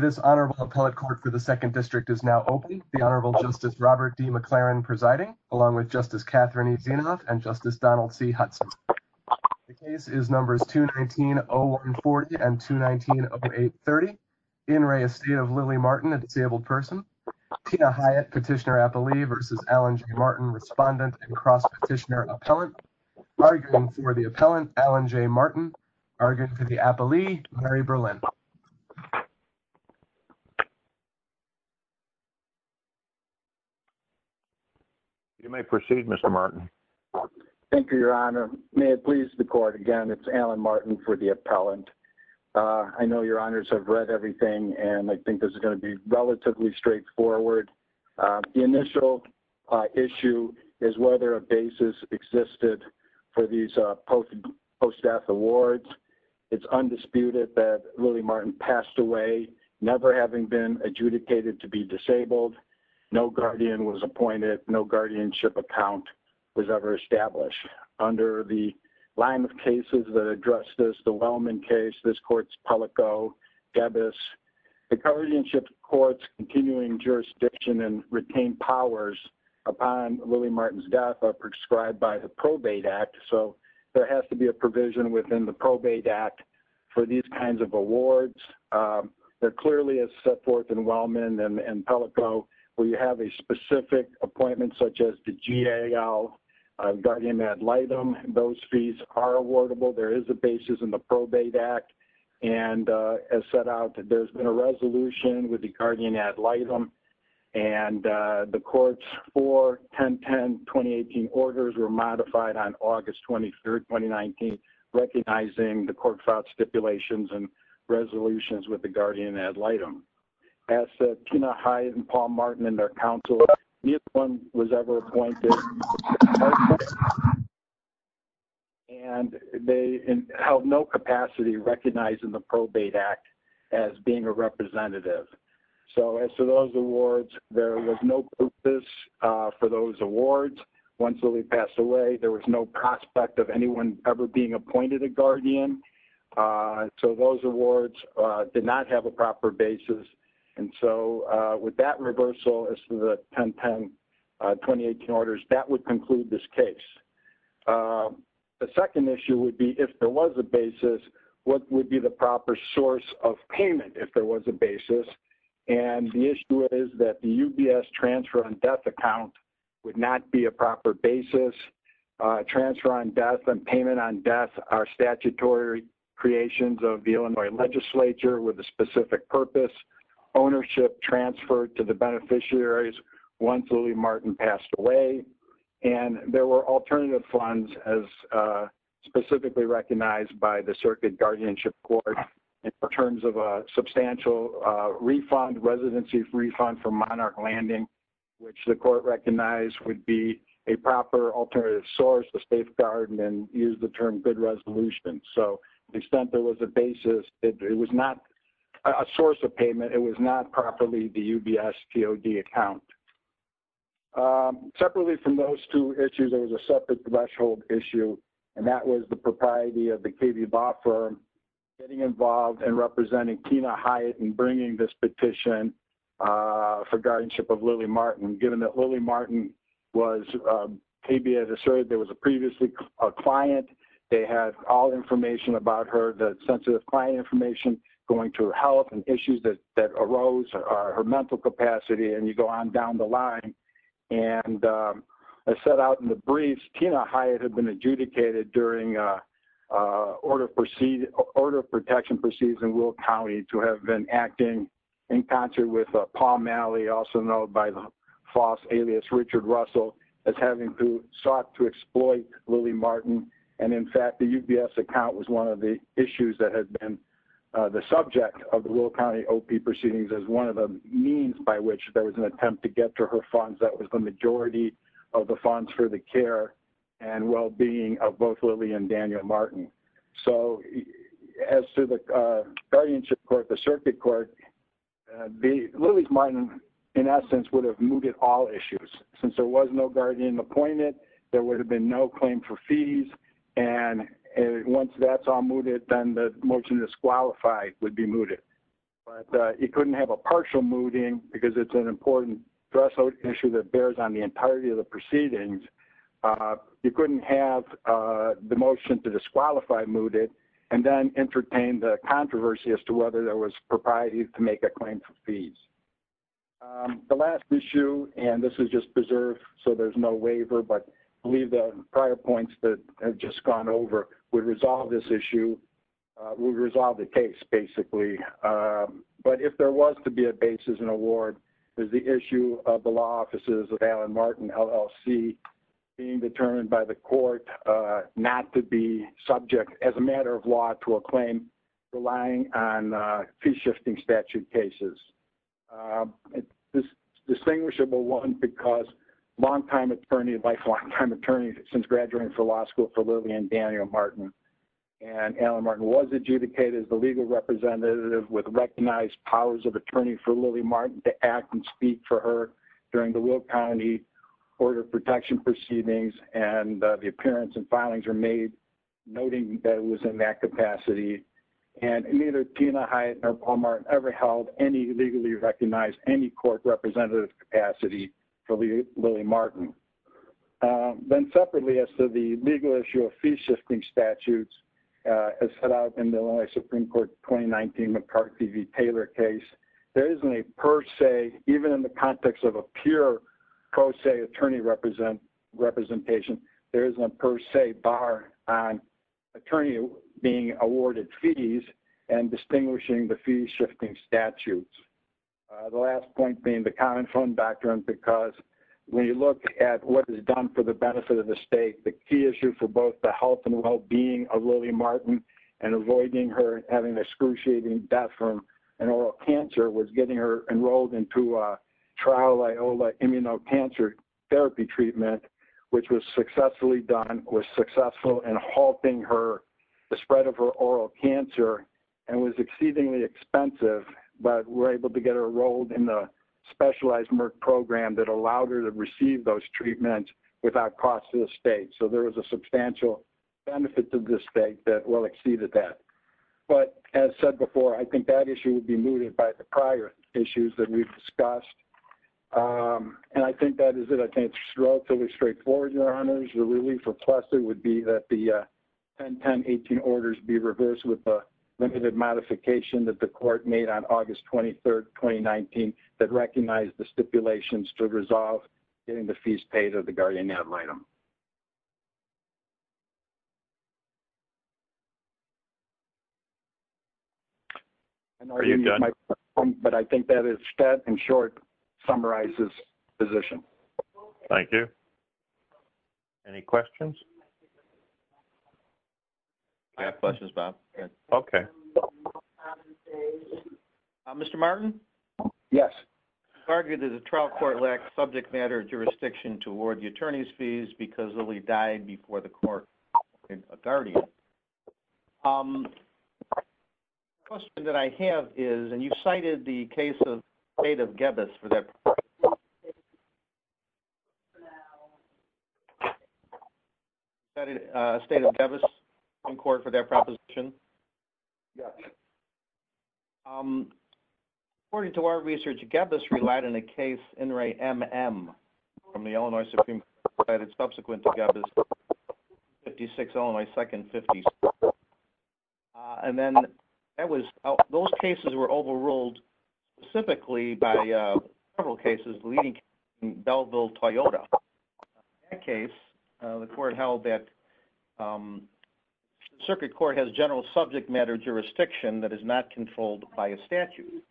This honorable appellate court for the 2nd district is now open. The Honorable Justice Robert D. McLaren presiding along with Justice Catherine and Justice Donald C. Hudson. The case is numbers 219-0140 and 219-0830. In re Estate of Lily Martin, a disabled person, Tina Hyatt, petitioner-appellee versus Alan J. Martin, respondent and cross-petitioner-appellant. Arguing for the appellant, Alan J. Martin. Arguing for the appellee, Mary Berlin. You may proceed, Mr. Martin. Thank you, Your Honor. May it please the court again, it's Alan Martin for the appellant. I know Your Honors have read everything and I think this is going to be for these post-death awards. It's undisputed that Lily Martin passed away, never having been adjudicated to be disabled. No guardian was appointed, no guardianship account was ever established. Under the line of cases that address this, the Wellman case, this court's Palico, Gebbis, the guardianship court's continuing jurisdiction and retained powers upon Lily So there has to be a provision within the Probate Act for these kinds of awards. There clearly is set forth in Wellman and Palico where you have a specific appointment such as the GAL, guardian ad litem. Those fees are awardable. There is a basis in the Probate Act and as set out, there's been a resolution with the guardian ad litem and the court's 4-10-10-2018 orders were August 23, 2019, recognizing the court filed stipulations and resolutions with the guardian ad litem. As Tina Hyatt and Paul Martin and their counsel, neither one was ever appointed and they held no capacity recognizing the Probate Act as being a representative. So as to those awards, there was no purpose for those awards. Once Lily passed away, there was no prospect of anyone ever being appointed a guardian. So those awards did not have a proper basis and so with that reversal as to the 10-10-2018 orders, that would conclude this case. The second issue would be if there was a basis, what would be the proper source of payment if there was a basis? And the issue is that the UBS transfer on death account would not be a transfer on death and payment on death are statutory creations of the Illinois legislature with a specific purpose. Ownership transfer to the beneficiaries once Lily Martin passed away and there were alternative funds as specifically recognized by the Circuit Guardianship Court in terms of a substantial refund, residency refund for Monarch Landing, which the court recognized would be a proper alternative source to safeguard and use the term good resolution. So to the extent there was a basis, it was not a source of payment, it was not properly the UBS TOD account. Separately from those two issues, there was a separate threshold issue and that was the propriety of the KB law firm getting involved and representing Tina Hyatt and bringing this petition for guardianship of Lily Martin. Given that Lily Martin was KB as asserted, there was a previously a client, they had all information about her, the sensitive client information going to help and issues that arose are her mental capacity and you go on down the line and as set out in the briefs, Tina Hyatt had been adjudicated during order of protection proceedings in Will County to have been acting in concert with Paul Malley, also known by the false alias Richard Russell, as having sought to exploit Lily Martin and in fact the UBS account was one of the issues that had been the subject of the Will County OP proceedings as one of the means by which there was an attempt to get to her funds that was the and Daniel Martin. So as to the guardianship court, the circuit court, Lily Martin in essence would have mooted all issues. Since there was no guardian appointment, there would have been no claim for fees and once that's all mooted, then the merchant disqualified would be mooted. But he couldn't have a partial mooting because it's an important threshold issue that bears on the motion to disqualify mooted and then entertain the controversy as to whether there was propriety to make a claim for fees. The last issue, and this is just preserved so there's no waiver, but I believe the prior points that have just gone over would resolve this issue, would resolve the case basically. But if there was to be a basis in a ward, there's the issue of the law offices of Alan Martin LLC being determined by the court not to be subject as a matter of law to a claim relying on fee-shifting statute cases. This distinguishable one because long-time attorney, lifelong time attorney since graduating from law school for Lily and Daniel Martin and Alan Martin was adjudicated as the legal representative with recognized powers of attorney for Lily Martin to act and speak for her during the Will County Order of Protection proceedings and the appearance and filings were made noting that it was in that capacity. And neither Tina Hyatt nor Paul Martin ever held any legally recognized, any court representative capacity for Lily Martin. Then separately as to the legal issue of fee-shifting statutes as set out in the Illinois Supreme Court 2019 McCarthy v. Taylor case, there isn't a per se, even in the context of a pure pro se attorney representation, there isn't a per se bar on attorney being awarded fees and distinguishing the fee-shifting statutes. The last point being the common fund doctrine because when you look at what is done for the issue for both the health and well-being of Lily Martin and avoiding her having excruciating death from an oral cancer was getting her enrolled into a trial Iola immunocancer therapy treatment, which was successfully done, was successful in halting her, the spread of her oral cancer and was exceedingly expensive, but we're able to get her enrolled in the specialized Merck program that allowed her to receive those treatments without cost to the state. So there was a substantial benefit to the state that well exceeded that. But as said before, I think that issue would be mooted by the prior issues that we've discussed. And I think that is it. I think it's relatively straightforward, Your Honors. The relief or plus it would be that the 101018 orders be reversed with the limited modification that the court made on August 23, 2019 that recognized the stipulations to resolve getting the fees paid of the guardian ad litem. But I think that in short summarizes the position. Thank you. Any questions? I have questions, Bob. Okay. Mr. Martin? Yes. Argued that the trial court lacked subject matter jurisdiction to award the attorney's fees because Lily died before the court guardian. Question that I have is, and you've cited the case of state of Davis in court for their proposition. According to our research, you get this relied in a case in Ray M. M. from the Illinois Supreme Court. It's subsequent to get 56 on my second 50. And then that was those cases were overruled specifically by several cases, leading Bellville, Toyota. In that case, the court held that circuit court has general subject matter jurisdiction that is not controlled by a statute.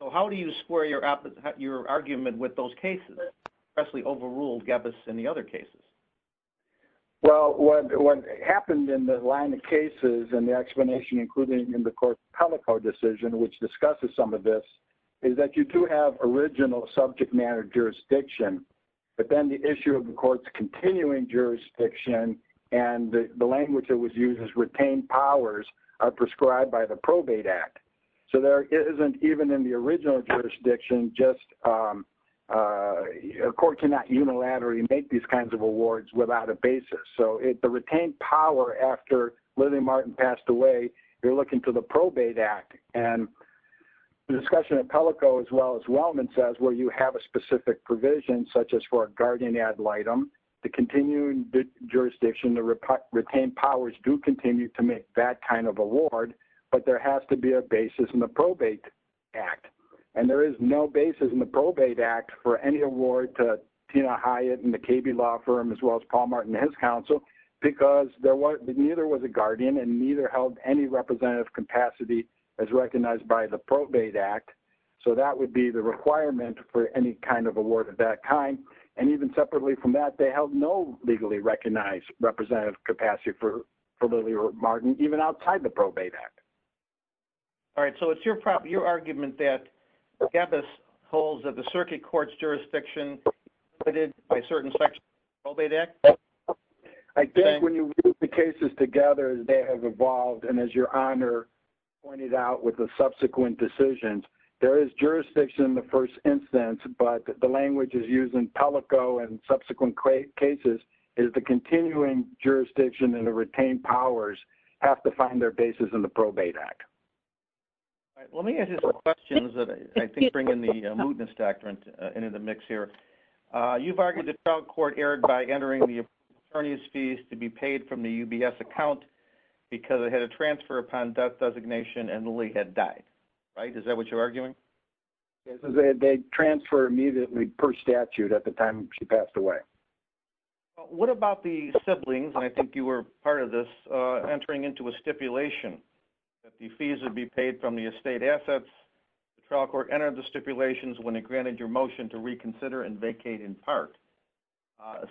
So how do you square your up your argument with those cases that actually overruled Gavis and the other cases? Well, what happened in the line of cases and the explanation, including in the court decision, which discusses some of this is that you do have original subject matter jurisdiction, but then the issue of the court's continuing jurisdiction and the language that was used as retained powers are prescribed by the probate act. So there isn't even in the original jurisdiction, just a court cannot unilaterally make these kinds of awards without a basis. So if the retained power after Lily Martin passed away, you're looking to the probate act and the discussion of Pelico as well as Wellman says, where you have a specific provision, such as for a guardian ad litem, the continuing jurisdiction, the retained powers do continue to make that kind of award, but there has to be a basis in the probate act. And there is no basis in the probate act for any award to Tina Hyatt and the KB law firm, as well as Paul Martin and his counsel, because there was neither was a guardian and neither held any representative capacity as recognized by the probate act. So that would be the requirement for any kind of award of that kind. And even separately from that, they held no legally recognized representative capacity for Lily Martin, even outside the probate act. All right. So it's your argument that the gap is holes of the circuit courts jurisdiction by certain sections of the probate act? I think when you put the cases together, they have evolved. And as your honor pointed out with the subsequent decisions, there is jurisdiction in the first instance, but the language is used in Pelico and subsequent cases is the continuing jurisdiction and the retained powers have to find their basis in the probate act. All right. Let me ask you some questions that I think bring in the mootness doctrine into the mix here. You've argued the trial court erred by entering the attorney's fees to be paid from the UBS account because it had a transfer upon death designation and Lily had died, right? Is that what you're arguing? They transfer immediately per statute at the time she passed away. What about the siblings? And I think you were part of this entering into a stipulation that the fees would be paid from the estate assets. The trial court entered the stipulations when it granted your motion to reconsider and vacate in part.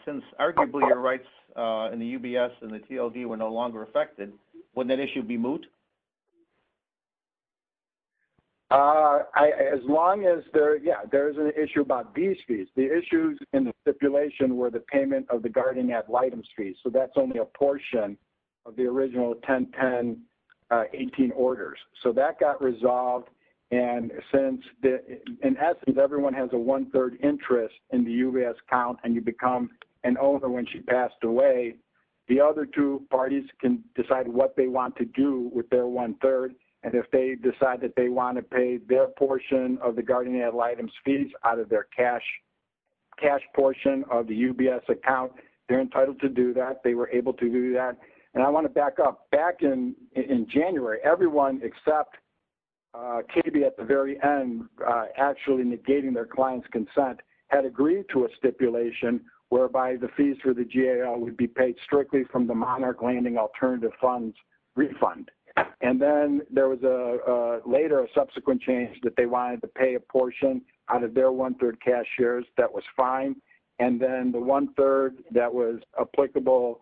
Since arguably your rights in the UBS and the TLD were no longer affected, wouldn't that issue be moot? As long as there, yeah, there is an issue about these fees. The issues in the stipulation were the payment of the guarding ad litem fees. So that's only a portion of the original 1010 18 orders. So that got resolved and since in essence everyone has a one-third interest in the UBS account and you become an owner when she passed away, the other two parties can decide what they want to do with their one-third and if they decide that they want to pay their portion of the guarding ad litem fees out of their cash portion of the UBS account, they're entitled to that. They were able to do that. And I want to back up. Back in January, everyone except KB at the very end actually negating their client's consent had agreed to a stipulation whereby the fees for the GAO would be paid strictly from the monarch landing alternative funds refund. And then there was a later subsequent change that they wanted to pay a portion out of their one-third cash shares. That was fine. And then the one-third that was applicable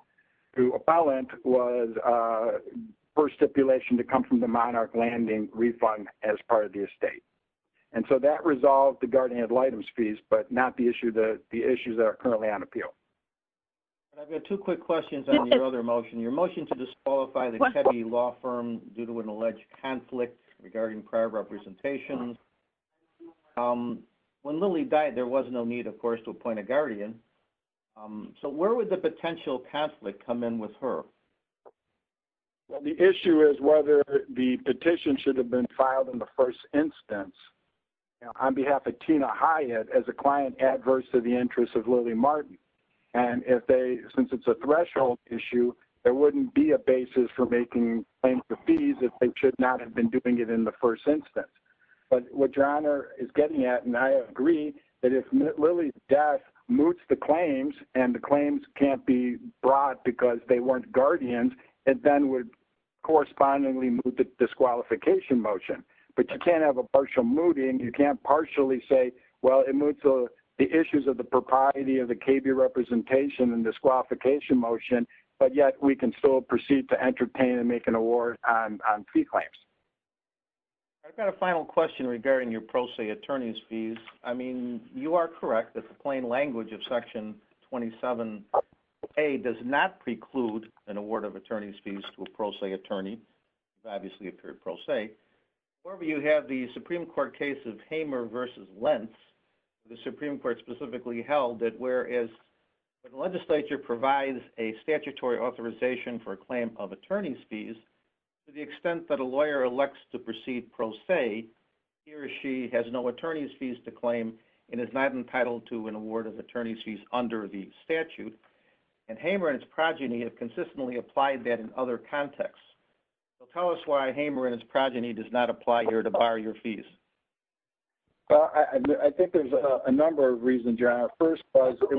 to appellant was first stipulation to come from the monarch landing refund as part of the estate. And so that resolved the guarding ad litem fees but not the issue that the issues that are currently on appeal. I've got two quick questions on the other motion. Your motion to disqualify the client. When Lily died, there was no need, of course, to appoint a guardian. So where would the potential conflict come in with her? Well, the issue is whether the petition should have been filed in the first instance on behalf of Tina Hyatt as a client adverse to the interests of Lily Martin. And since it's a threshold issue, there wouldn't be a basis for making claims to fees if they should not have been doing it in the first instance. But what your honor is getting at, and I agree that if Lily's death moots the claims and the claims can't be brought because they weren't guardians, it then would correspondingly move the disqualification motion. But you can't have a partial mooting. You can't partially say, well, it moves the issues of the propriety of the KB representation and disqualification motion, but yet we can still proceed to entertain and award on pre-claims. I've got a final question regarding your pro se attorney's fees. I mean, you are correct that the plain language of section 27A does not preclude an award of attorney's fees to a pro se attorney. It's obviously a period pro se. However, you have the Supreme Court case of Hamer versus Lentz. The Supreme Court specifically held that whereas the legislature provides a to the extent that a lawyer elects to proceed pro se, he or she has no attorney's fees to claim and is not entitled to an award of attorney's fees under the statute. And Hamer and his progeny have consistently applied that in other contexts. So tell us why Hamer and his progeny does not apply here to bar your fees. Well, I think there's a number of reasons, your honor. First was it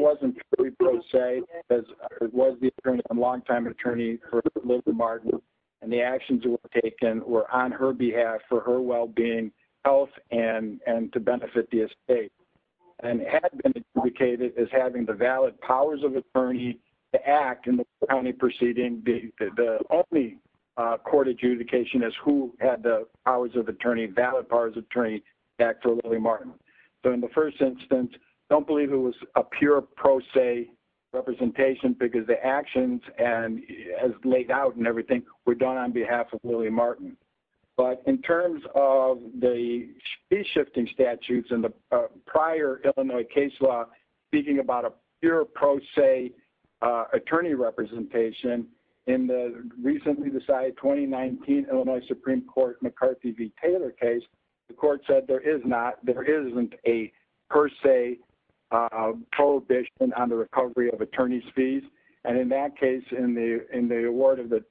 the actions that were taken were on her behalf for her well-being, health, and to benefit the estate. And it had been adjudicated as having the valid powers of attorney to act in the county proceeding. The only court adjudication is who had the powers of attorney, valid powers of attorney to act for Lillie Martin. So in the first instance, I don't believe it was a pure pro se representation because the actions and as laid out and everything were done on behalf of Lillie Martin. But in terms of the fee shifting statutes in the prior Illinois case law, speaking about a pure pro se attorney representation in the recently decided 2019 Illinois Supreme Court McCarthy v. Attorney's Fees. And in that case, in the award of the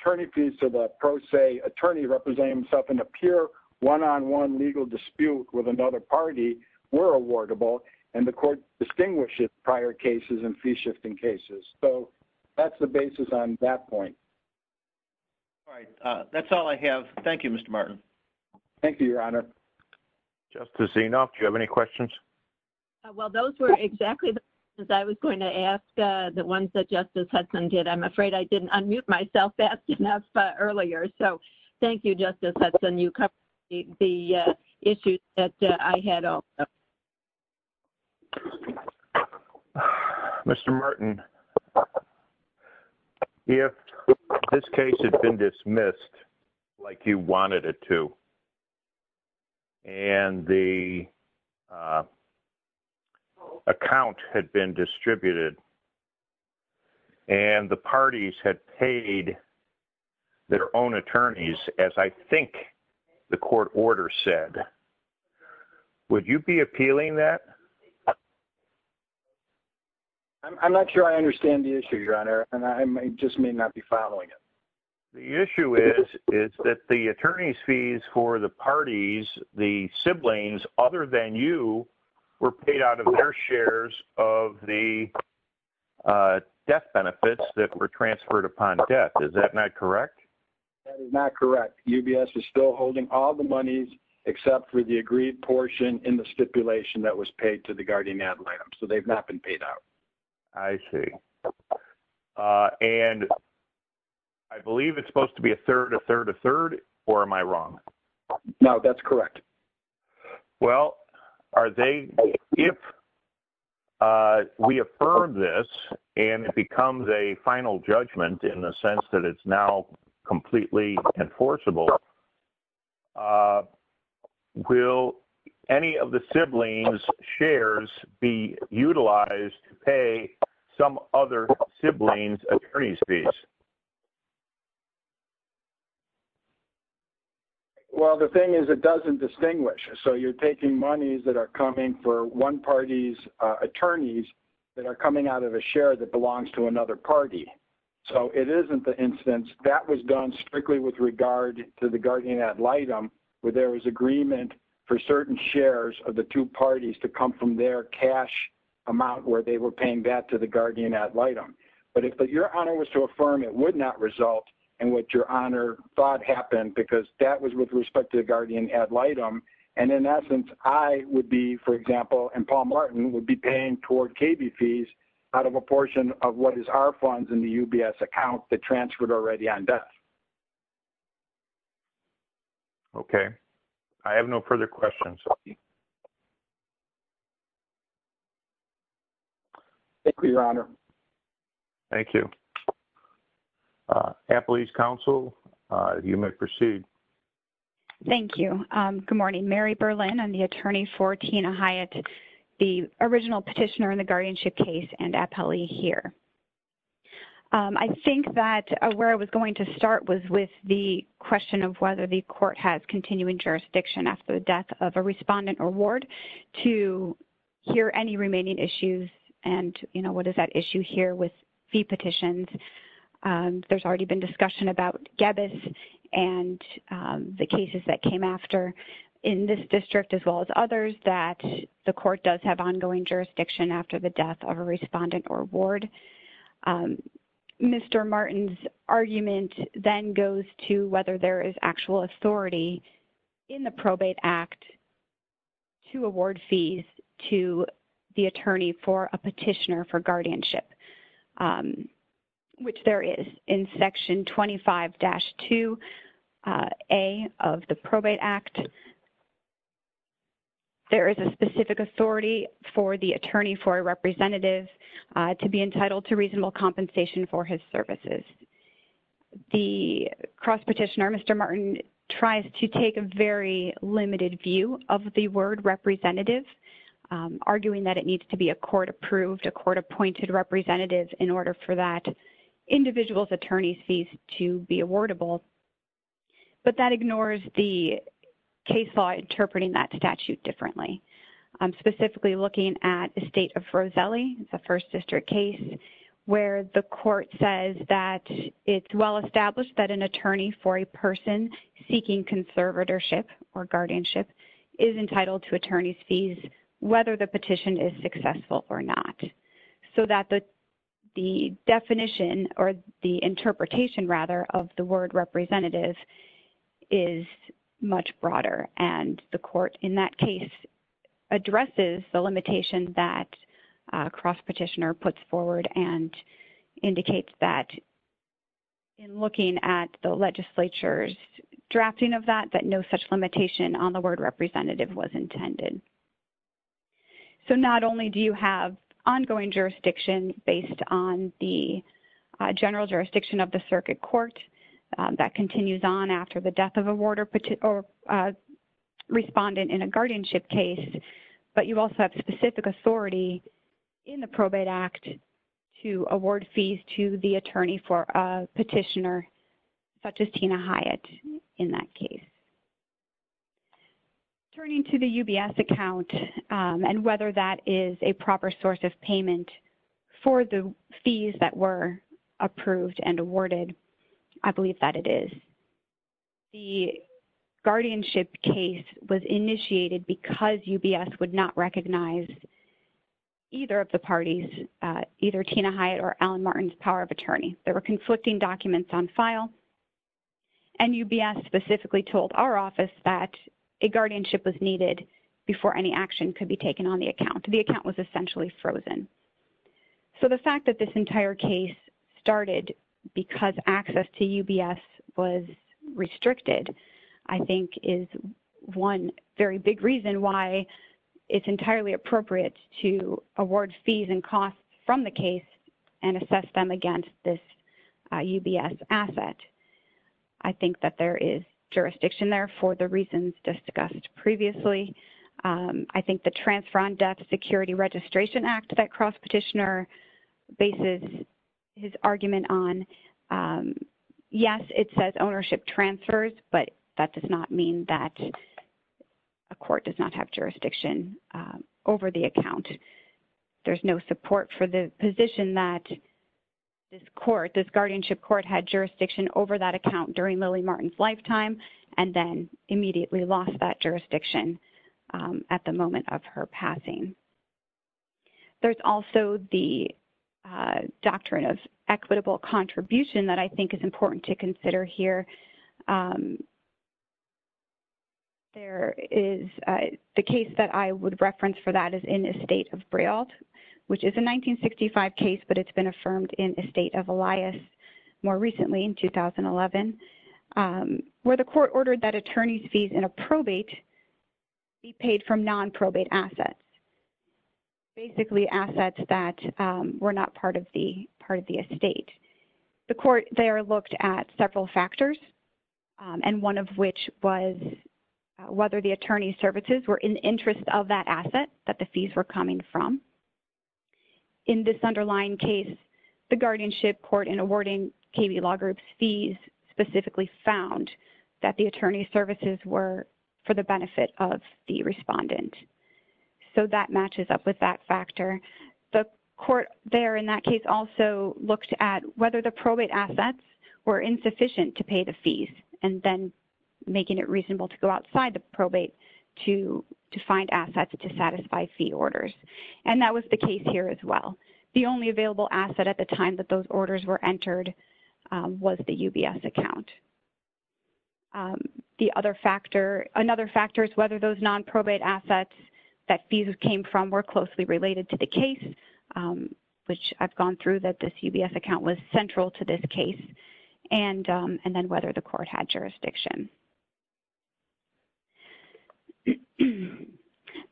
attorney fees to the pro se attorney representing himself in a pure one-on-one legal dispute with another party were awardable, and the court distinguishes prior cases and fee shifting cases. So that's the basis on that point. All right. That's all I have. Thank you, Mr. Martin. Thank you, your honor. Justice Enoff, do you have any questions? Well, those were exactly the questions I was going to ask. The ones that Justice Hudson did. I'm afraid I didn't unmute myself fast enough earlier. So thank you, Justice Hudson. You covered the issues that I had. Mr. Martin, if this case had been dismissed like you wanted it to, and the account had been distributed, and the parties had paid their own attorneys, as I think the court order said, would you be appealing that? I'm not sure I understand the issue, your honor, and I just may not be following it. The issue is that the attorney's fees for the parties, the siblings other than you, were paid out of their shares of the death benefits that were transferred upon death. Is that not correct? That is not correct. UBS is still holding all the monies except for the agreed portion in the stipulation that was paid to the guardian ad litem. So they've not been paid out. I see. And I believe it's supposed to be a third, a third, a third, or am I wrong? No, that's correct. Well, are they, if we affirm this and it becomes a final judgment in the sense that it's now some other siblings attorney's fees? Well, the thing is, it doesn't distinguish. So you're taking monies that are coming for one party's attorneys that are coming out of a share that belongs to another party. So it isn't the instance that was done strictly with regard to the guardian ad litem, where there was agreement for certain shares of the two parties to come from their cash amount where they were paying back to the guardian ad litem. But if your honor was to affirm, it would not result in what your honor thought happened because that was with respect to the guardian ad litem. And in essence, I would be, for example, and Paul Martin would be paying toward KB fees out of a portion of what is our funds in the UBS account that transferred already on death. Okay. I have no further questions. Thank you, your honor. Thank you. Appellee's counsel, you may proceed. Thank you. Good morning. Mary Berlin. I'm the attorney for Tina Hyatt, the original petitioner in the guardianship case and appellee here. I think that where I was going to start was with the question of whether the court has issues and, you know, what is that issue here with fee petitions. There's already been discussion about Gebbes and the cases that came after in this district as well as others that the court does have ongoing jurisdiction after the death of a respondent or ward. Mr. Martin's argument then goes to whether there is actual authority in the Probate Act to award fees to the attorney for a petitioner for guardianship, which there is in Section 25-2A of the Probate Act. There is a specific authority for the attorney for a representative to be entitled to reasonable compensation for his services. The cross petitioner, Mr. Martin, tries to take a very limited view of the word representative, arguing that it needs to be a court-approved, a court-appointed representative in order for that individual's attorney's fees to be awardable. But that ignores the case law interpreting that statute differently. I'm specifically looking at the state of Roselli, the first district case, where the court says that it's well-established that an attorney for a person seeking conservatorship or guardianship is entitled to attorney's fees, whether the petition is successful or not. So that the definition or the interpretation, rather, of the word representative is much broader. And the court in that case addresses the limitation that cross-petitioner puts forward and indicates that in looking at the legislature's drafting of that, that no such limitation on the word representative was intended. So not only do you have ongoing jurisdiction based on the general jurisdiction of the circuit court that continues on after the death of a ward or respondent in a guardianship case, but you also have specific authority in the probate act to award fees to the attorney for a petitioner such as Tina Hyatt in that case. Turning to the UBS account and whether that is a proper source of payment for the fees that were approved and awarded, I believe that it is. The guardianship case was initiated because UBS would not recognize either of the parties, either Tina Hyatt or Alan Martin's power of attorney. There were conflicting documents on file and UBS specifically told our office that a guardianship was needed before any action could be taken on the account. The account was essentially frozen. So the fact that this entire case started because access to UBS was restricted, I think is one very big reason why it's entirely appropriate to award fees and costs from the case and assess them against this UBS asset. I think that there is jurisdiction there for the reasons discussed previously. I think the Transfer on Death Security Registration Act that cross-petitioner bases his argument on, yes, it says ownership transfers, but that does not mean that a court does not have jurisdiction over the account. There's no support for the position that this court, this guardianship court had jurisdiction over that account during that jurisdiction at the moment of her passing. There's also the Doctrine of Equitable Contribution that I think is important to consider here. There is the case that I would reference for that is in Estate of Brailt, which is a 1965 case, but it's been affirmed in Estate of Elias more recently in 2011, where the court ordered that attorney's fees in a probate be paid from non-probate assets, basically assets that were not part of the estate. The court there looked at several factors, and one of which was whether the attorney's services were in the interest of that asset that the fees were coming from. In this underlying case, the guardianship court in awarding KB Law Group's fees specifically found that the attorney's services were for the benefit of the respondent. So that matches up with that factor. The court there in that case also looked at whether the probate assets were insufficient to pay the fees, and then making it reasonable to go outside the probate to find assets to satisfy fee orders. And that was the case here as well. The only available asset at the time that those the other factor, another factor is whether those non-probate assets that fees came from were closely related to the case, which I've gone through that this UBS account was central to this case, and then whether the court had jurisdiction.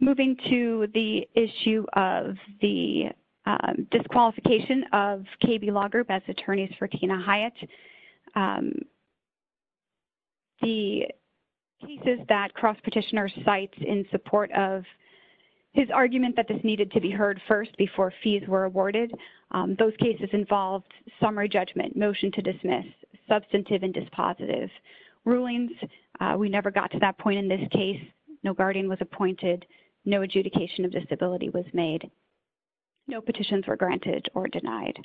Moving to the issue of the disqualification of the cases that Cross Petitioner cites in support of his argument that this needed to be heard first before fees were awarded. Those cases involved summary judgment, motion to dismiss, substantive and dispositive rulings. We never got to that point in this case. No guardian was appointed. No adjudication of disability was made. No petitions were granted or denied.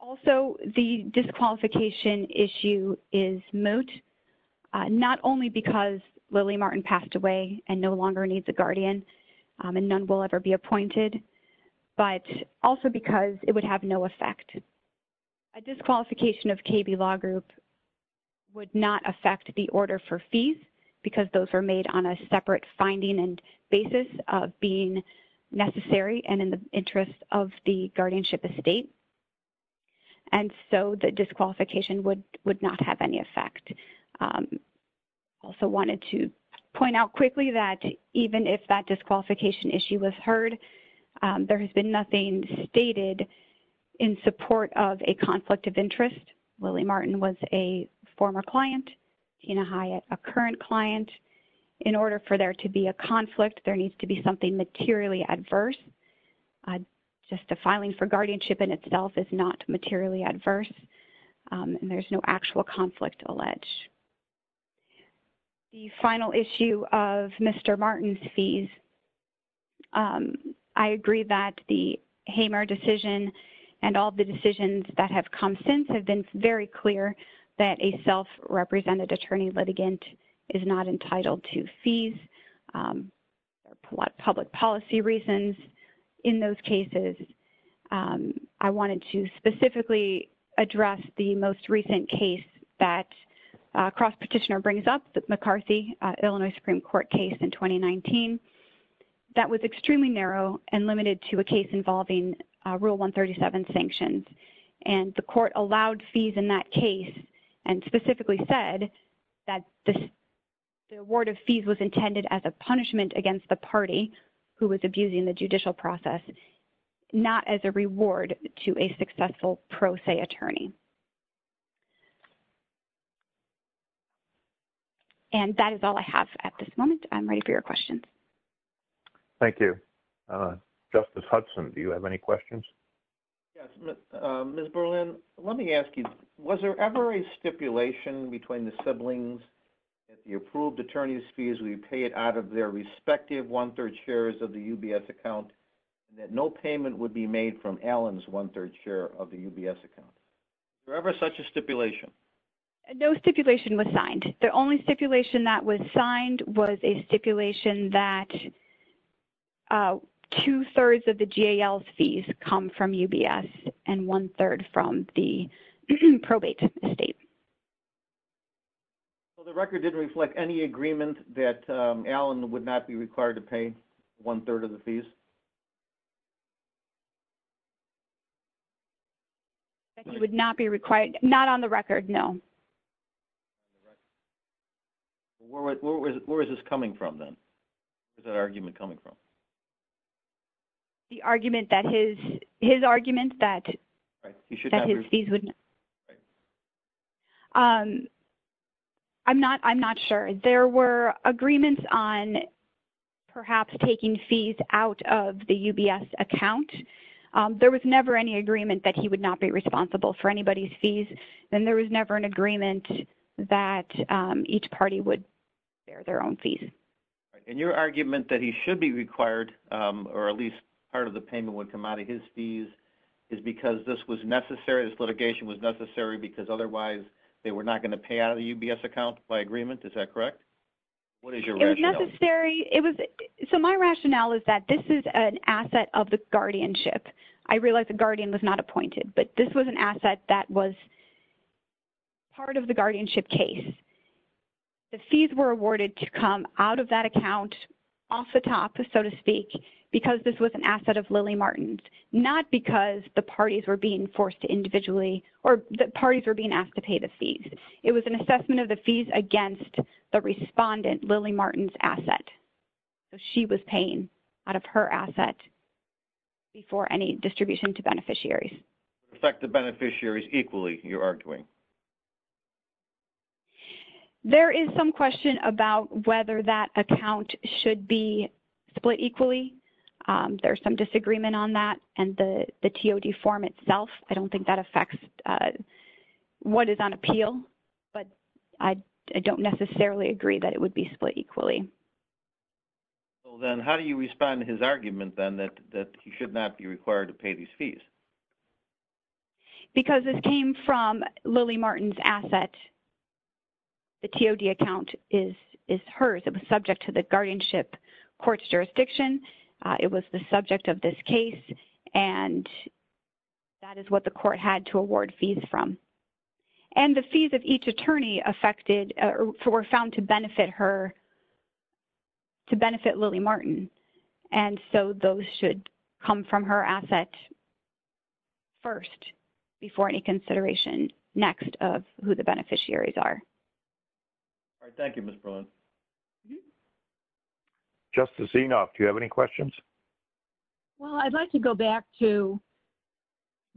Also, the disqualification issue is moot, not only because Lily Martin passed away and no longer needs a guardian, and none will ever be appointed, but also because it would have no effect. A disqualification of KB Law Group would not affect the order for fees because those were made on a separate finding and basis of being necessary and in the interest of the guardianship estate, and so the disqualification would not have any effect. Also wanted to point out quickly that even if that disqualification issue was heard, there has been nothing stated in support of a disqualification. In order for there to be a conflict, there needs to be something materially adverse. Just a filing for guardianship in itself is not materially adverse, and there is no actual conflict alleged. The final issue of Mr. Martin's fees, I agree that the Hamer decision and all the decisions that have come since have been very clear that a self-represented attorney litigant is not entitled to fees, public policy reasons. In those cases, I wanted to specifically address the most recent case that Cross Petitioner brings up, the McCarthy-Illinois Supreme Court case in 2019. That was extremely narrow and limited to a case involving Rule 137 sanctions, and the case specifically said that the award of fees was intended as a punishment against the party who was abusing the judicial process, not as a reward to a successful pro se attorney. That is all I have at this moment. I'm ready for your questions. Thank you. Justice Hudson, do you have any questions? Yes. Ms. Berlin, let me ask you, was there ever a stipulation between the siblings that the approved attorney's fees would be paid out of their respective one-third shares of the UBS account, that no payment would be made from Allen's one-third share of the UBS account? Was there ever such a stipulation? No stipulation was signed. The only stipulation that was signed was a stipulation that two-thirds of the GAL's fees come from UBS and one-third from the probate estate. So the record didn't reflect any agreement that Allen would not be required to pay one-third of the fees? That he would not be required, not on the record, no. Where is this coming from, then? Where is that argument coming from? The argument that his, his argument that, that his fees would, I'm not, I'm not sure. There were agreements on perhaps taking fees out of the UBS account. There was never any agreement that he would not be responsible for anybody's fees, and there was never an agreement that each party would bear their own fees. And your argument that he should be required, or at least part of the payment would come out of his fees, is because this was necessary, this litigation was necessary, because otherwise they were not going to pay out of the UBS account by agreement, is that correct? What is your rationale? It was necessary, it was, so my rationale is that this is an asset of the guardianship. I realize the guardian was not appointed, but this was an asset that was part of the guardianship case. The fees were awarded to come out of that account, off the top, so to speak, because this was an asset of Lily Martin's, not because the parties were being forced to individually, or the parties were being asked to pay the fees. It was an assessment of the fees against the respondent, Lily Martin's asset. So she was paying out of her asset before any distribution to beneficiaries. Affect the beneficiaries equally, you're arguing? There is some question about whether that account should be split equally. There's some disagreement on that, and the TOD form itself, I don't think that affects what is on appeal, but I don't necessarily agree that it would be split equally. Well, then how do you respond to his argument, then, that he should not be required to pay these fees? Because this came from Lily Martin's asset. The TOD account is hers. It was subject to the guardianship court's jurisdiction. It was the subject of this case, and that is what the court had to award fees from. And the fees of each attorney affected, or were found to benefit her, or to benefit Lily Martin. And so those should come from her asset first, before any consideration next of who the beneficiaries are. All right. Thank you, Ms. Berlin. Justice Enoff, do you have any questions? Well, I'd like to go back to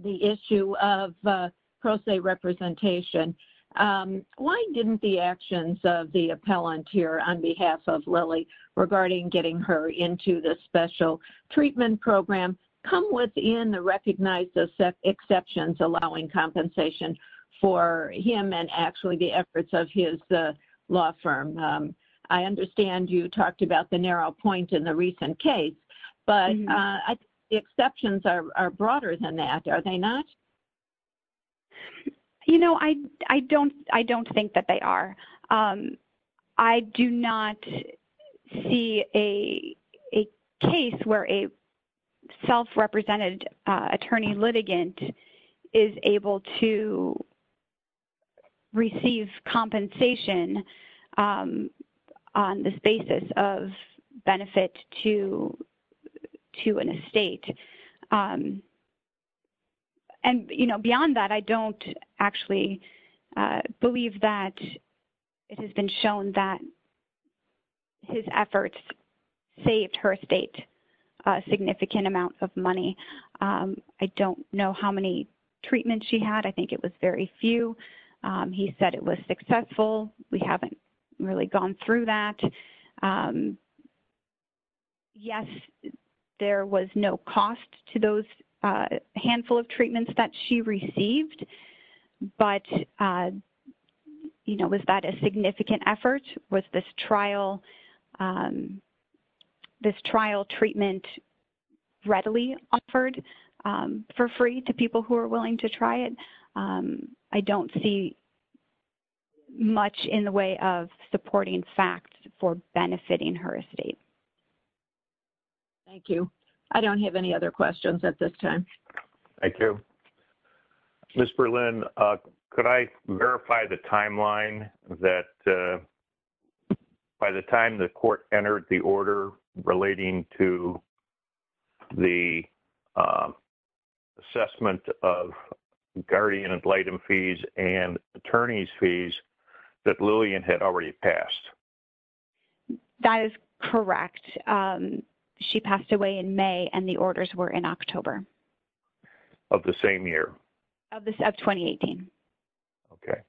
the issue of pro se representation. Why didn't the actions of the appellant here on behalf of Lily regarding getting her into the special treatment program come within the recognized exceptions allowing compensation for him and actually the efforts of his law firm? I understand you talked about the narrow point in the recent case, but the exceptions are broader than that. Are they not? You know, I don't think that they are. I do not see a case where a self-represented attorney litigant is able to receive compensation on this basis of benefit to an estate. And, you know, beyond that, I don't actually believe that it has been shown that his efforts saved her estate a significant amount of money. I don't know how many treatments she had. I think it was very few. He said it was successful, we haven't really gone through that. Yes, there was no cost to those handful of treatments that she received. But, you know, was that a significant effort? Was this trial treatment readily offered for free to people who are willing to try it? I don't see it much in the way of supporting facts for benefiting her estate. Thank you. I don't have any other questions at this time. Thank you. Ms. Berlin, could I verify the timeline that by the time the court entered the order relating to the assessment of guardian ad litem fees and attorney's fees that Lillian had already passed? That is correct. She passed away in May and the orders were in October. Of the same year? Of 2018. Okay.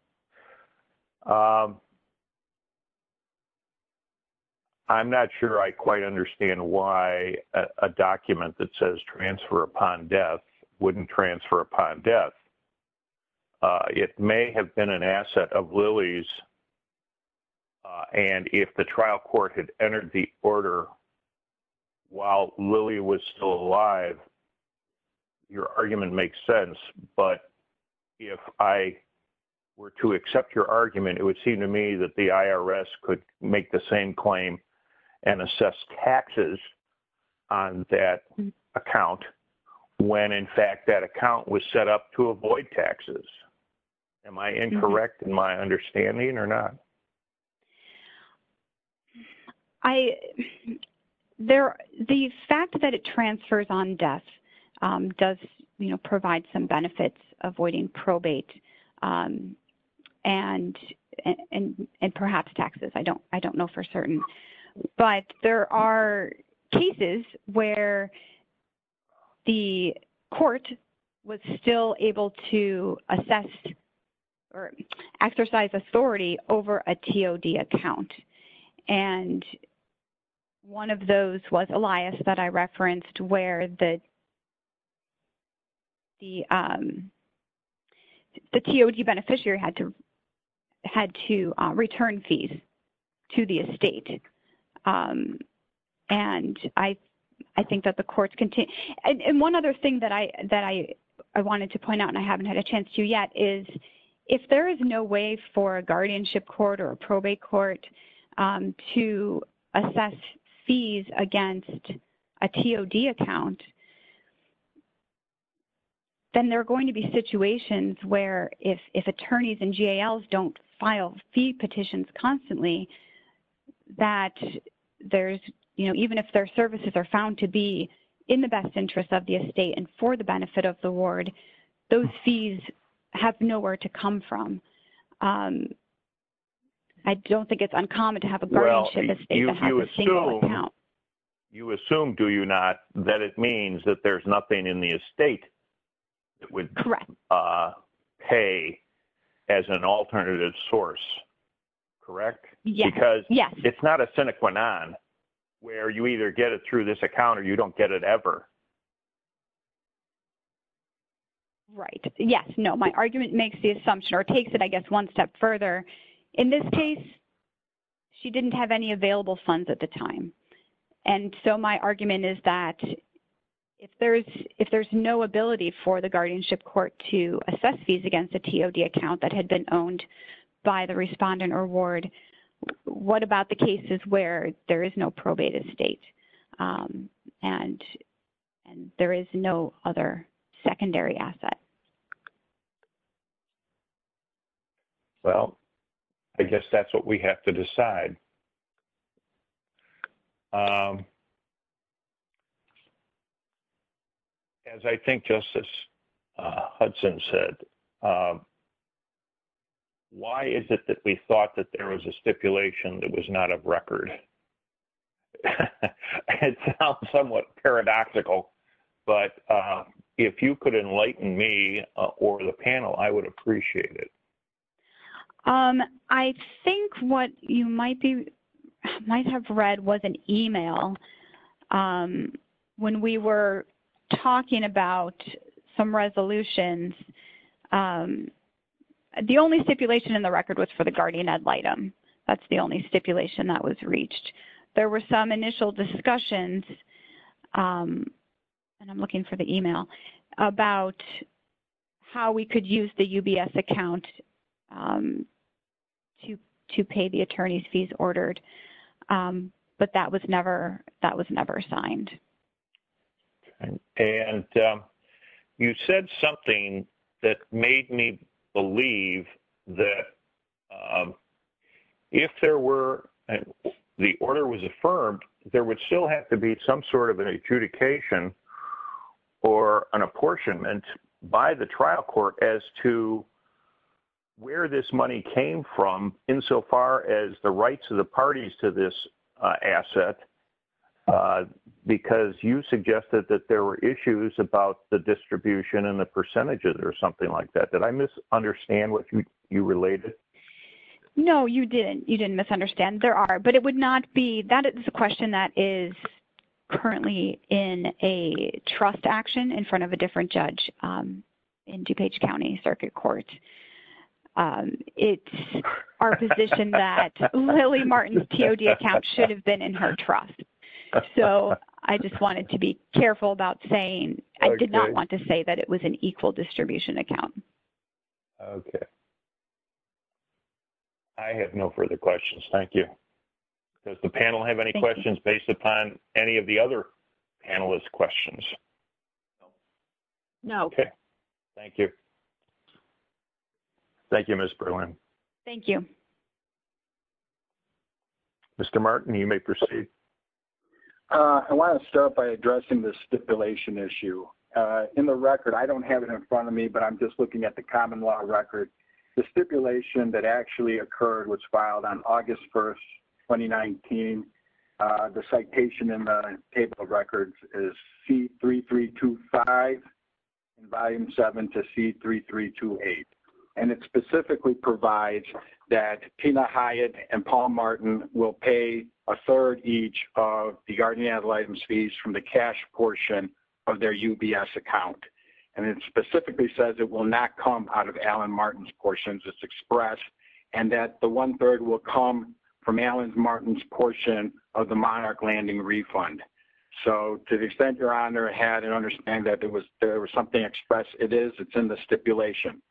I'm not sure I quite understand why a document that says transfer upon death wouldn't transfer upon death. It may have been an asset of Lillie's and if the trial court had entered the order while Lillie was still alive, your argument makes sense. But if I were to accept your argument, it would seem to me that the IRS could make the same claim and assess taxes on that account when in fact that account was set up to avoid taxes. Am I incorrect in my understanding or not? I, there, the fact that it transfers on death does, you know, provide some benefits avoiding probate and perhaps taxes. I don't know for certain. But there are cases where the court was still able to assess or exercise authority over a TOD account. And one of those was Elias that I referenced where the TOD beneficiary had to return fees to the estate. And I think that the courts continue. And one other thing that I wanted to point out and I haven't had a chance to yet is if there is no way for a guardianship court or a probate court to assess fees against a TOD account, then there are going to be situations where if attorneys and GALs don't file fee petitions constantly that there's, you know, even if their services are found to be in the best interest of the estate and for the benefit of the ward, those fees have nowhere to come from. I don't think it's uncommon to have a guardianship estate that has a single account. Well, you assume, do you not, that it means that there's nothing in the estate that would pay as an alternative source, correct? Yes. Because it's not a sine qua non where you either get it through this account or you don't get it ever. Right. Yes. No. My argument makes the assumption or takes it, I guess, one step further. In this case, she didn't have any available funds at the time. And so my argument is that if there's no ability for the guardianship court to assess fees against a TOD account that had been owned by the respondent or ward, what about the cases where there is no probated estate and there is no other secondary asset? Well, I guess that's what we have to decide. As I think Justice Hudson said, why is it that we thought that there was a stipulation that was not of record? It sounds somewhat paradoxical, but if you could enlighten me or the panel, I would appreciate it. I think what you might have read was an email when we were talking about some resolutions. The only stipulation in the record was for the guardian ad litem. That's the only stipulation that was reached. There were some initial discussions, and I'm looking for the email, about how we could use the UBS account to pay the attorney's fees ordered. But that was never signed. And you said something that made me believe that if the order was affirmed, there would still have to be some sort of an adjudication or an apportionment by the trial court as to where this money came from, insofar as the rights of the parties to this asset, because you suggested that there were issues about the distribution and the percentages or something like that. Did I misunderstand what you related? No, you didn't. You didn't misunderstand. There are, but it would not be. That is a question that is currently in a trust action in front of a different judge in DuPage County Circuit Court. It's our position that Lily Martin's TOD account should have been in her trust. So I just wanted to be careful about saying, I did not want to say that it was an equal distribution account. Okay. I have no further questions. Thank you. Does the panel have any questions based upon any of the other panelists' questions? No. Okay. Thank you. Thank you, Ms. Berlin. Thank you. Mr. Martin, you may proceed. I want to start by addressing the stipulation issue. In the record, I don't have it in front of me, but I'm just looking at the common law record. The stipulation that actually occurred was filed on August 1, 2019. The citation in the table of records is C-3325, Volume 7 to C-3328. It specifically provides that Tina Hyatt and Paul Martin will pay a third each of the guardian ad litem fees from the cash portion of their UBS account. It specifically says it will not come out of Alan Martin's portion. It's expressed and that the one-third will come from Alan Martin's portion of the monarch landing refund. So to the extent Your Honor had an understanding that there was something expressed, it is. It's in the stipulation.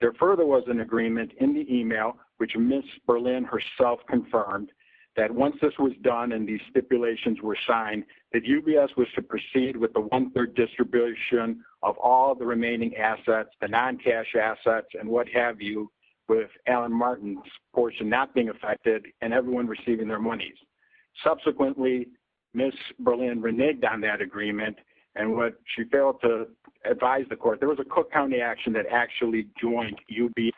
There further was an agreement in the email, which Ms. Berlin herself confirmed, that once this was done and these stipulations were signed, that UBS was to proceed with the one-third distribution of all the remaining assets, the non-cash assets and what have you, with Alan Martin's portion not being affected and everyone receiving their monies. Subsequently, Ms. Berlin reneged on that agreement and she failed to advise the court. There was a Cook County action that actually joined UBS,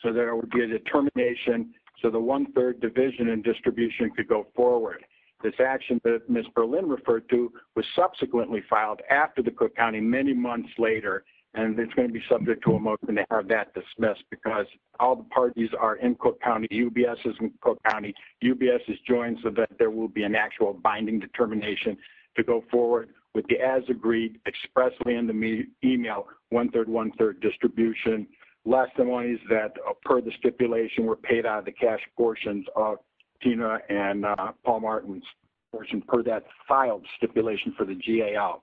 so there would be a determination so the one-third division and distribution could go forward. This action that Ms. Berlin referred to was subsequently filed after the Cook County many months later, and it's going to be subject to a motion to have that dismissed because all the parties are in Cook County. UBS is in Cook County. UBS has joined so that there will be an actual binding determination to go forward with the as agreed expressly in the email one-third, one-third distribution. Last, the monies that per the stipulation were paid out of the cash portions of Tina and Paul Martin's portion per that filed stipulation for the GAL.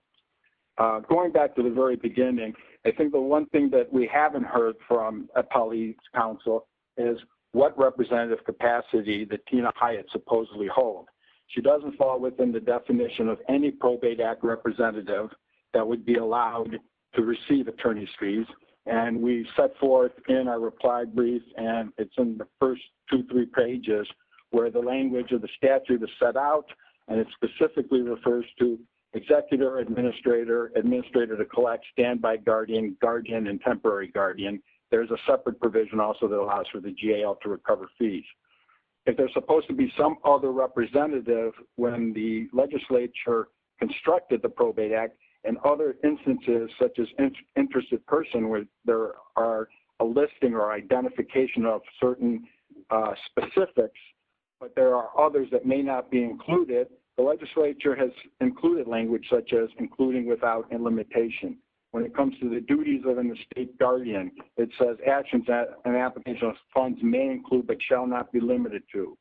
Going back to the very beginning, I think the one thing that we heard from a police counsel is what representative capacity that Tina Hyatt supposedly hold. She doesn't fall within the definition of any probate act representative that would be allowed to receive attorney's fees, and we set forth in our reply brief, and it's in the first two, three pages where the language of the statute is set out, and it specifically refers to there's a separate provision also that allows for the GAL to recover fees. If there's supposed to be some other representative when the legislature constructed the probate act and other instances such as interested person where there are a listing or identification of certain specifics, but there are others that may not be included, the legislature has included language such as including without and limitation. When it comes to the duties of an estate guardian, it says actions that an application of funds may include but shall not be limited to.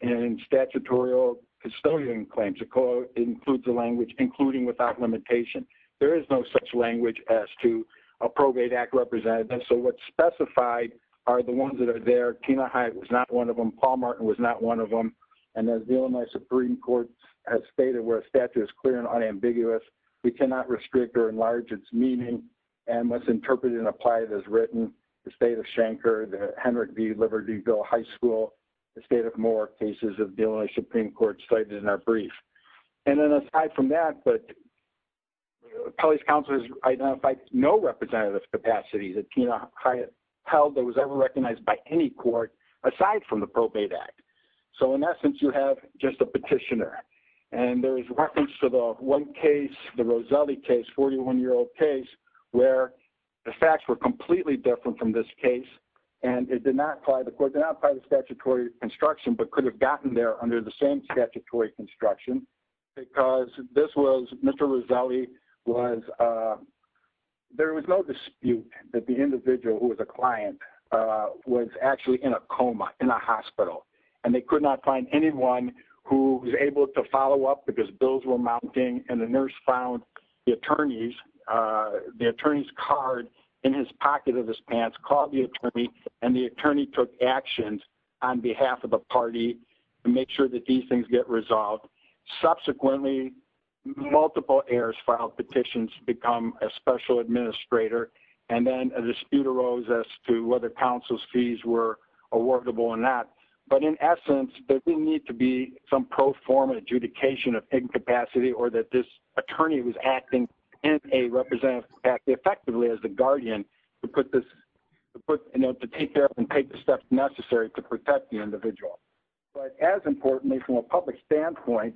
In statutorial custodian claims, it includes the language including without limitation. There is no such language as to a probate act representative, so what's specified are the ones that are there. Tina Hyatt was not one of them. Paul Martin was not one of them. And as the Illinois Supreme Court has stated where a statute is clear and unambiguous, we cannot restrict or enlarge its meaning and must interpret it and apply it as written. The state of Shanker, the Hendrick B. Libertyville High School, the state of Mohawk cases of the Illinois Supreme Court cited in our brief. And then aside from that, but appellate counselors identified no representative capacity that Tina Hyatt held that was ever recognized by any court aside from the probate act. So in essence, you have just a petitioner. And there is reference to the one case, the Roselli case, 41-year-old case, where the facts were completely different from this case. And it did not apply, the court did not apply the statutory construction but could have gotten there under the same statutory construction. Because this was Mr. Roselli was, there was no dispute that the individual who was a client was actually in a coma, in a hospital. And they could not find anyone who was able to follow up because bills were mounting and the nurse found the attorney's card in his pocket of his pants, called the attorney and the attorney took actions on behalf of the party to make sure that these things get resolved. Subsequently, multiple heirs filed petitions to become a special administrator. And then a dispute arose as to whether counsel's fees were awardable or not. But in essence, there didn't need to be some pro forma adjudication of incapacity or that this attorney was acting in a representative act effectively as the guardian to take care of and take the steps necessary to protect the individual. But as importantly, from a public standpoint,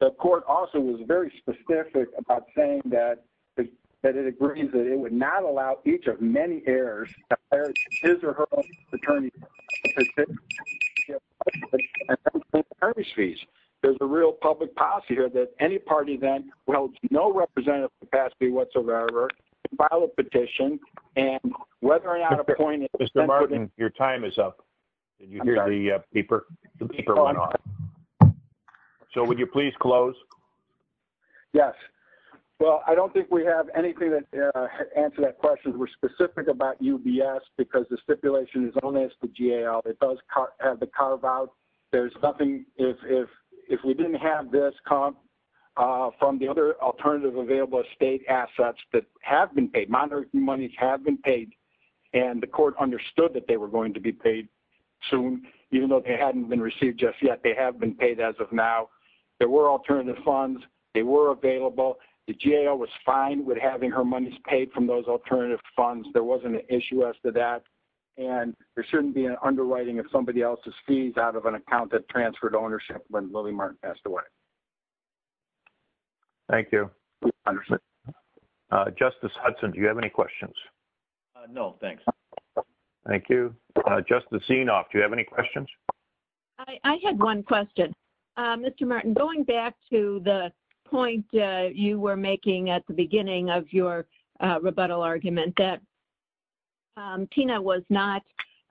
the court also was very specific about saying that it agrees that it would not allow each of many heirs to hire his or her own attorney. There's a real public policy here that any party then holds no representative capacity whatsoever to file a petition and whether or not Mr. Martin, your time is up. Did you hear the peeper? So would you please close? Yes. Well, I don't think we have anything to answer that question. We're specific about UBS because the stipulation is only as the GAO it does have the carve out. There's nothing if we didn't have this comp from the other alternative available state assets that have been paid monies have been paid. And the court understood that they were going to be paid soon, even though they hadn't been received just yet, they have been paid as of now, there were alternative funds, they were available. The GAO was fine with having her money's paid from those alternative funds. There wasn't an issue as to that. And there shouldn't be an underwriting of somebody else's fees out of an account that transferred ownership when Thank you. Justice Hudson, do you have any questions? No, thanks. Thank you. Just the scene off. Do you have any questions? I had one question. Mr. Martin going back to the point you were making at the beginning of your rebuttal argument that Tina was not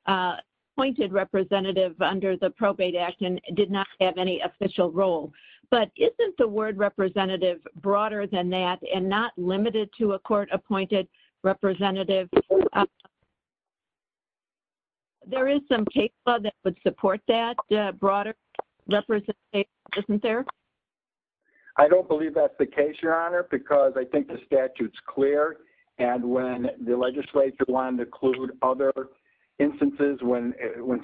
appointed representative under the probate act and did not have any official role. But isn't the word representative broader than that and not limited to a court appointed representative? There is some case law that would support that broader representation, isn't there? I don't believe that's the case, Your Honor, because I think the statute is clear. And when the legislature wanted to include other instances when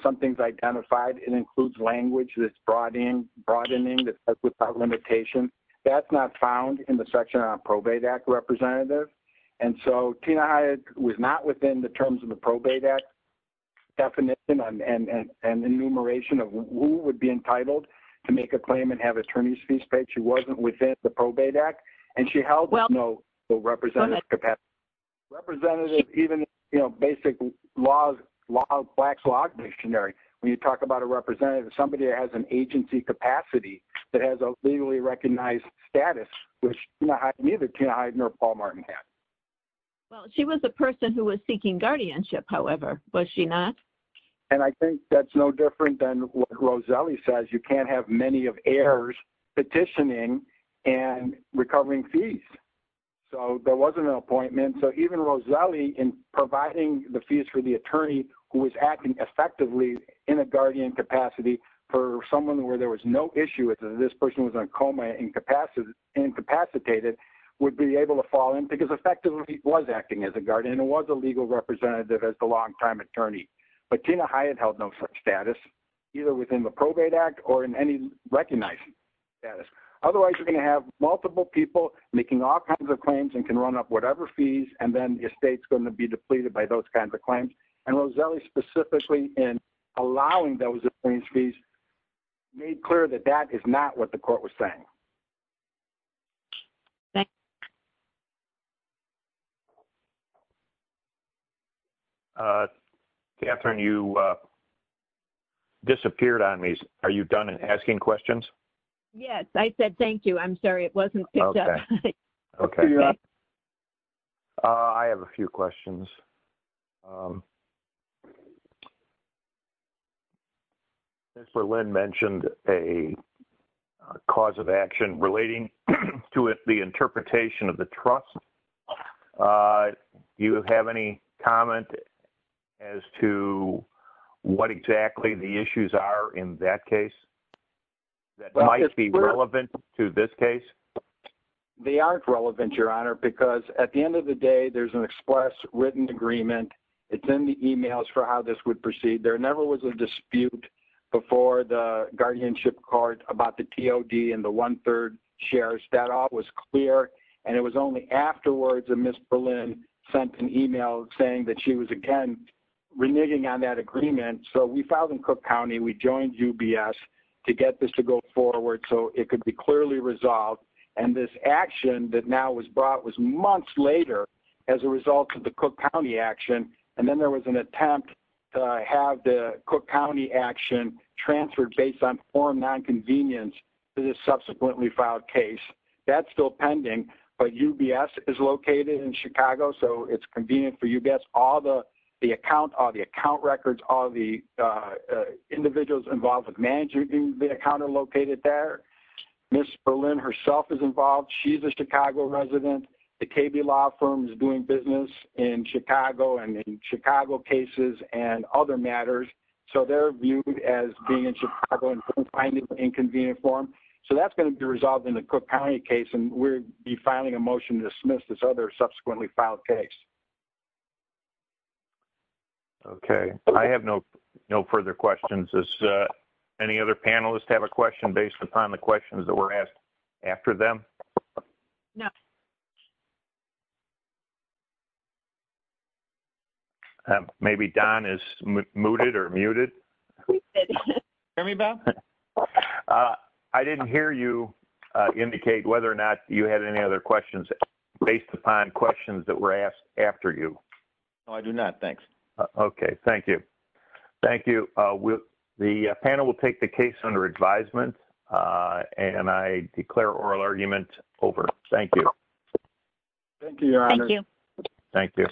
something's identified, it includes language that's broadening that's without limitation. That's not found in the section on probate act representative. And so Tina Hyatt was not within the terms of the probate act definition and enumeration of who would be entitled to make a claim and have attorneys fees paid. She wasn't within the probate act. And she held no representative capacity. Representative even basic flax log dictionary. When you talk about a representative, somebody that has an agency capacity that has a legally recognized status, which neither Tina Hyatt nor Paul Martin had. Well, she was a person who was seeking guardianship, however, was she not? And I think that's no different than what Roselli says. You can't have many of heirs petitioning and recovering fees. So there wasn't an appointment. So even Roselli, in providing the fees for the attorney who was acting effectively in a guardian capacity for someone where there was no issue with this person was in a coma and incapacitated, would be able to fall in because effectively he was acting as a guardian and was a legal representative as the longtime attorney. But Tina Hyatt held no such status, either within the probate act or in any recognized status. Otherwise, you're going to have multiple people making all kinds of claims and can run up whatever fees. And then your state's going to be depleted by those kinds of claims. And Roselli specifically in allowing those attorneys fees made clear that that is not what the court was saying. Thank you. Catherine, you disappeared on me. Are you done asking questions? Yes, I said, thank you. I'm sorry. It wasn't. Okay. I have a few questions. Chancellor Lynn mentioned a cause of action relating to the interpretation of the trust. You have any comment as to what exactly the issues are in that case that might be relevant to this case? They aren't relevant, Your Honor, because at the end of the day, there's an express written agreement. It's in the emails for how this would proceed. There never was a dispute before the guardianship court about the TOD and the one third shares. That all was clear. And it was only afterwards that Ms. Berlin sent an email saying that she was, again, reneging on that agreement. So we filed in Cook County. We joined UBS to get this to go forward so it could be clearly resolved. And this action that now was brought was months later as a result of the Cook County action. And then there was an attempt to have the Cook County action transferred based on form nonconvenience to the subsequently filed case. That's still pending. But UBS is located in Chicago, so it's convenient for UBS. All the account records, all the individuals involved with managing the account are located there. Ms. Berlin herself is involved. She's a Chicago resident. The KB Law firm is doing business. In Chicago and in Chicago cases and other matters. So they're viewed as being in Chicago and finding it inconvenient for them. So that's going to be resolved in the Cook County case, and we'll be filing a motion to dismiss this other subsequently filed case. Okay. I have no further questions. Any other panelists have a question based upon the questions that were asked after them? No. Okay. Maybe Don is muted or muted. Hear me, Bill? I didn't hear you indicate whether or not you had any other questions based upon questions that were asked after you. No, I do not. Thanks. Okay. Thank you. Thank you. The panel will take the case under advisement, and I declare oral argument over. Thank you. Thank you, Your Honor. Thank you. Thank you.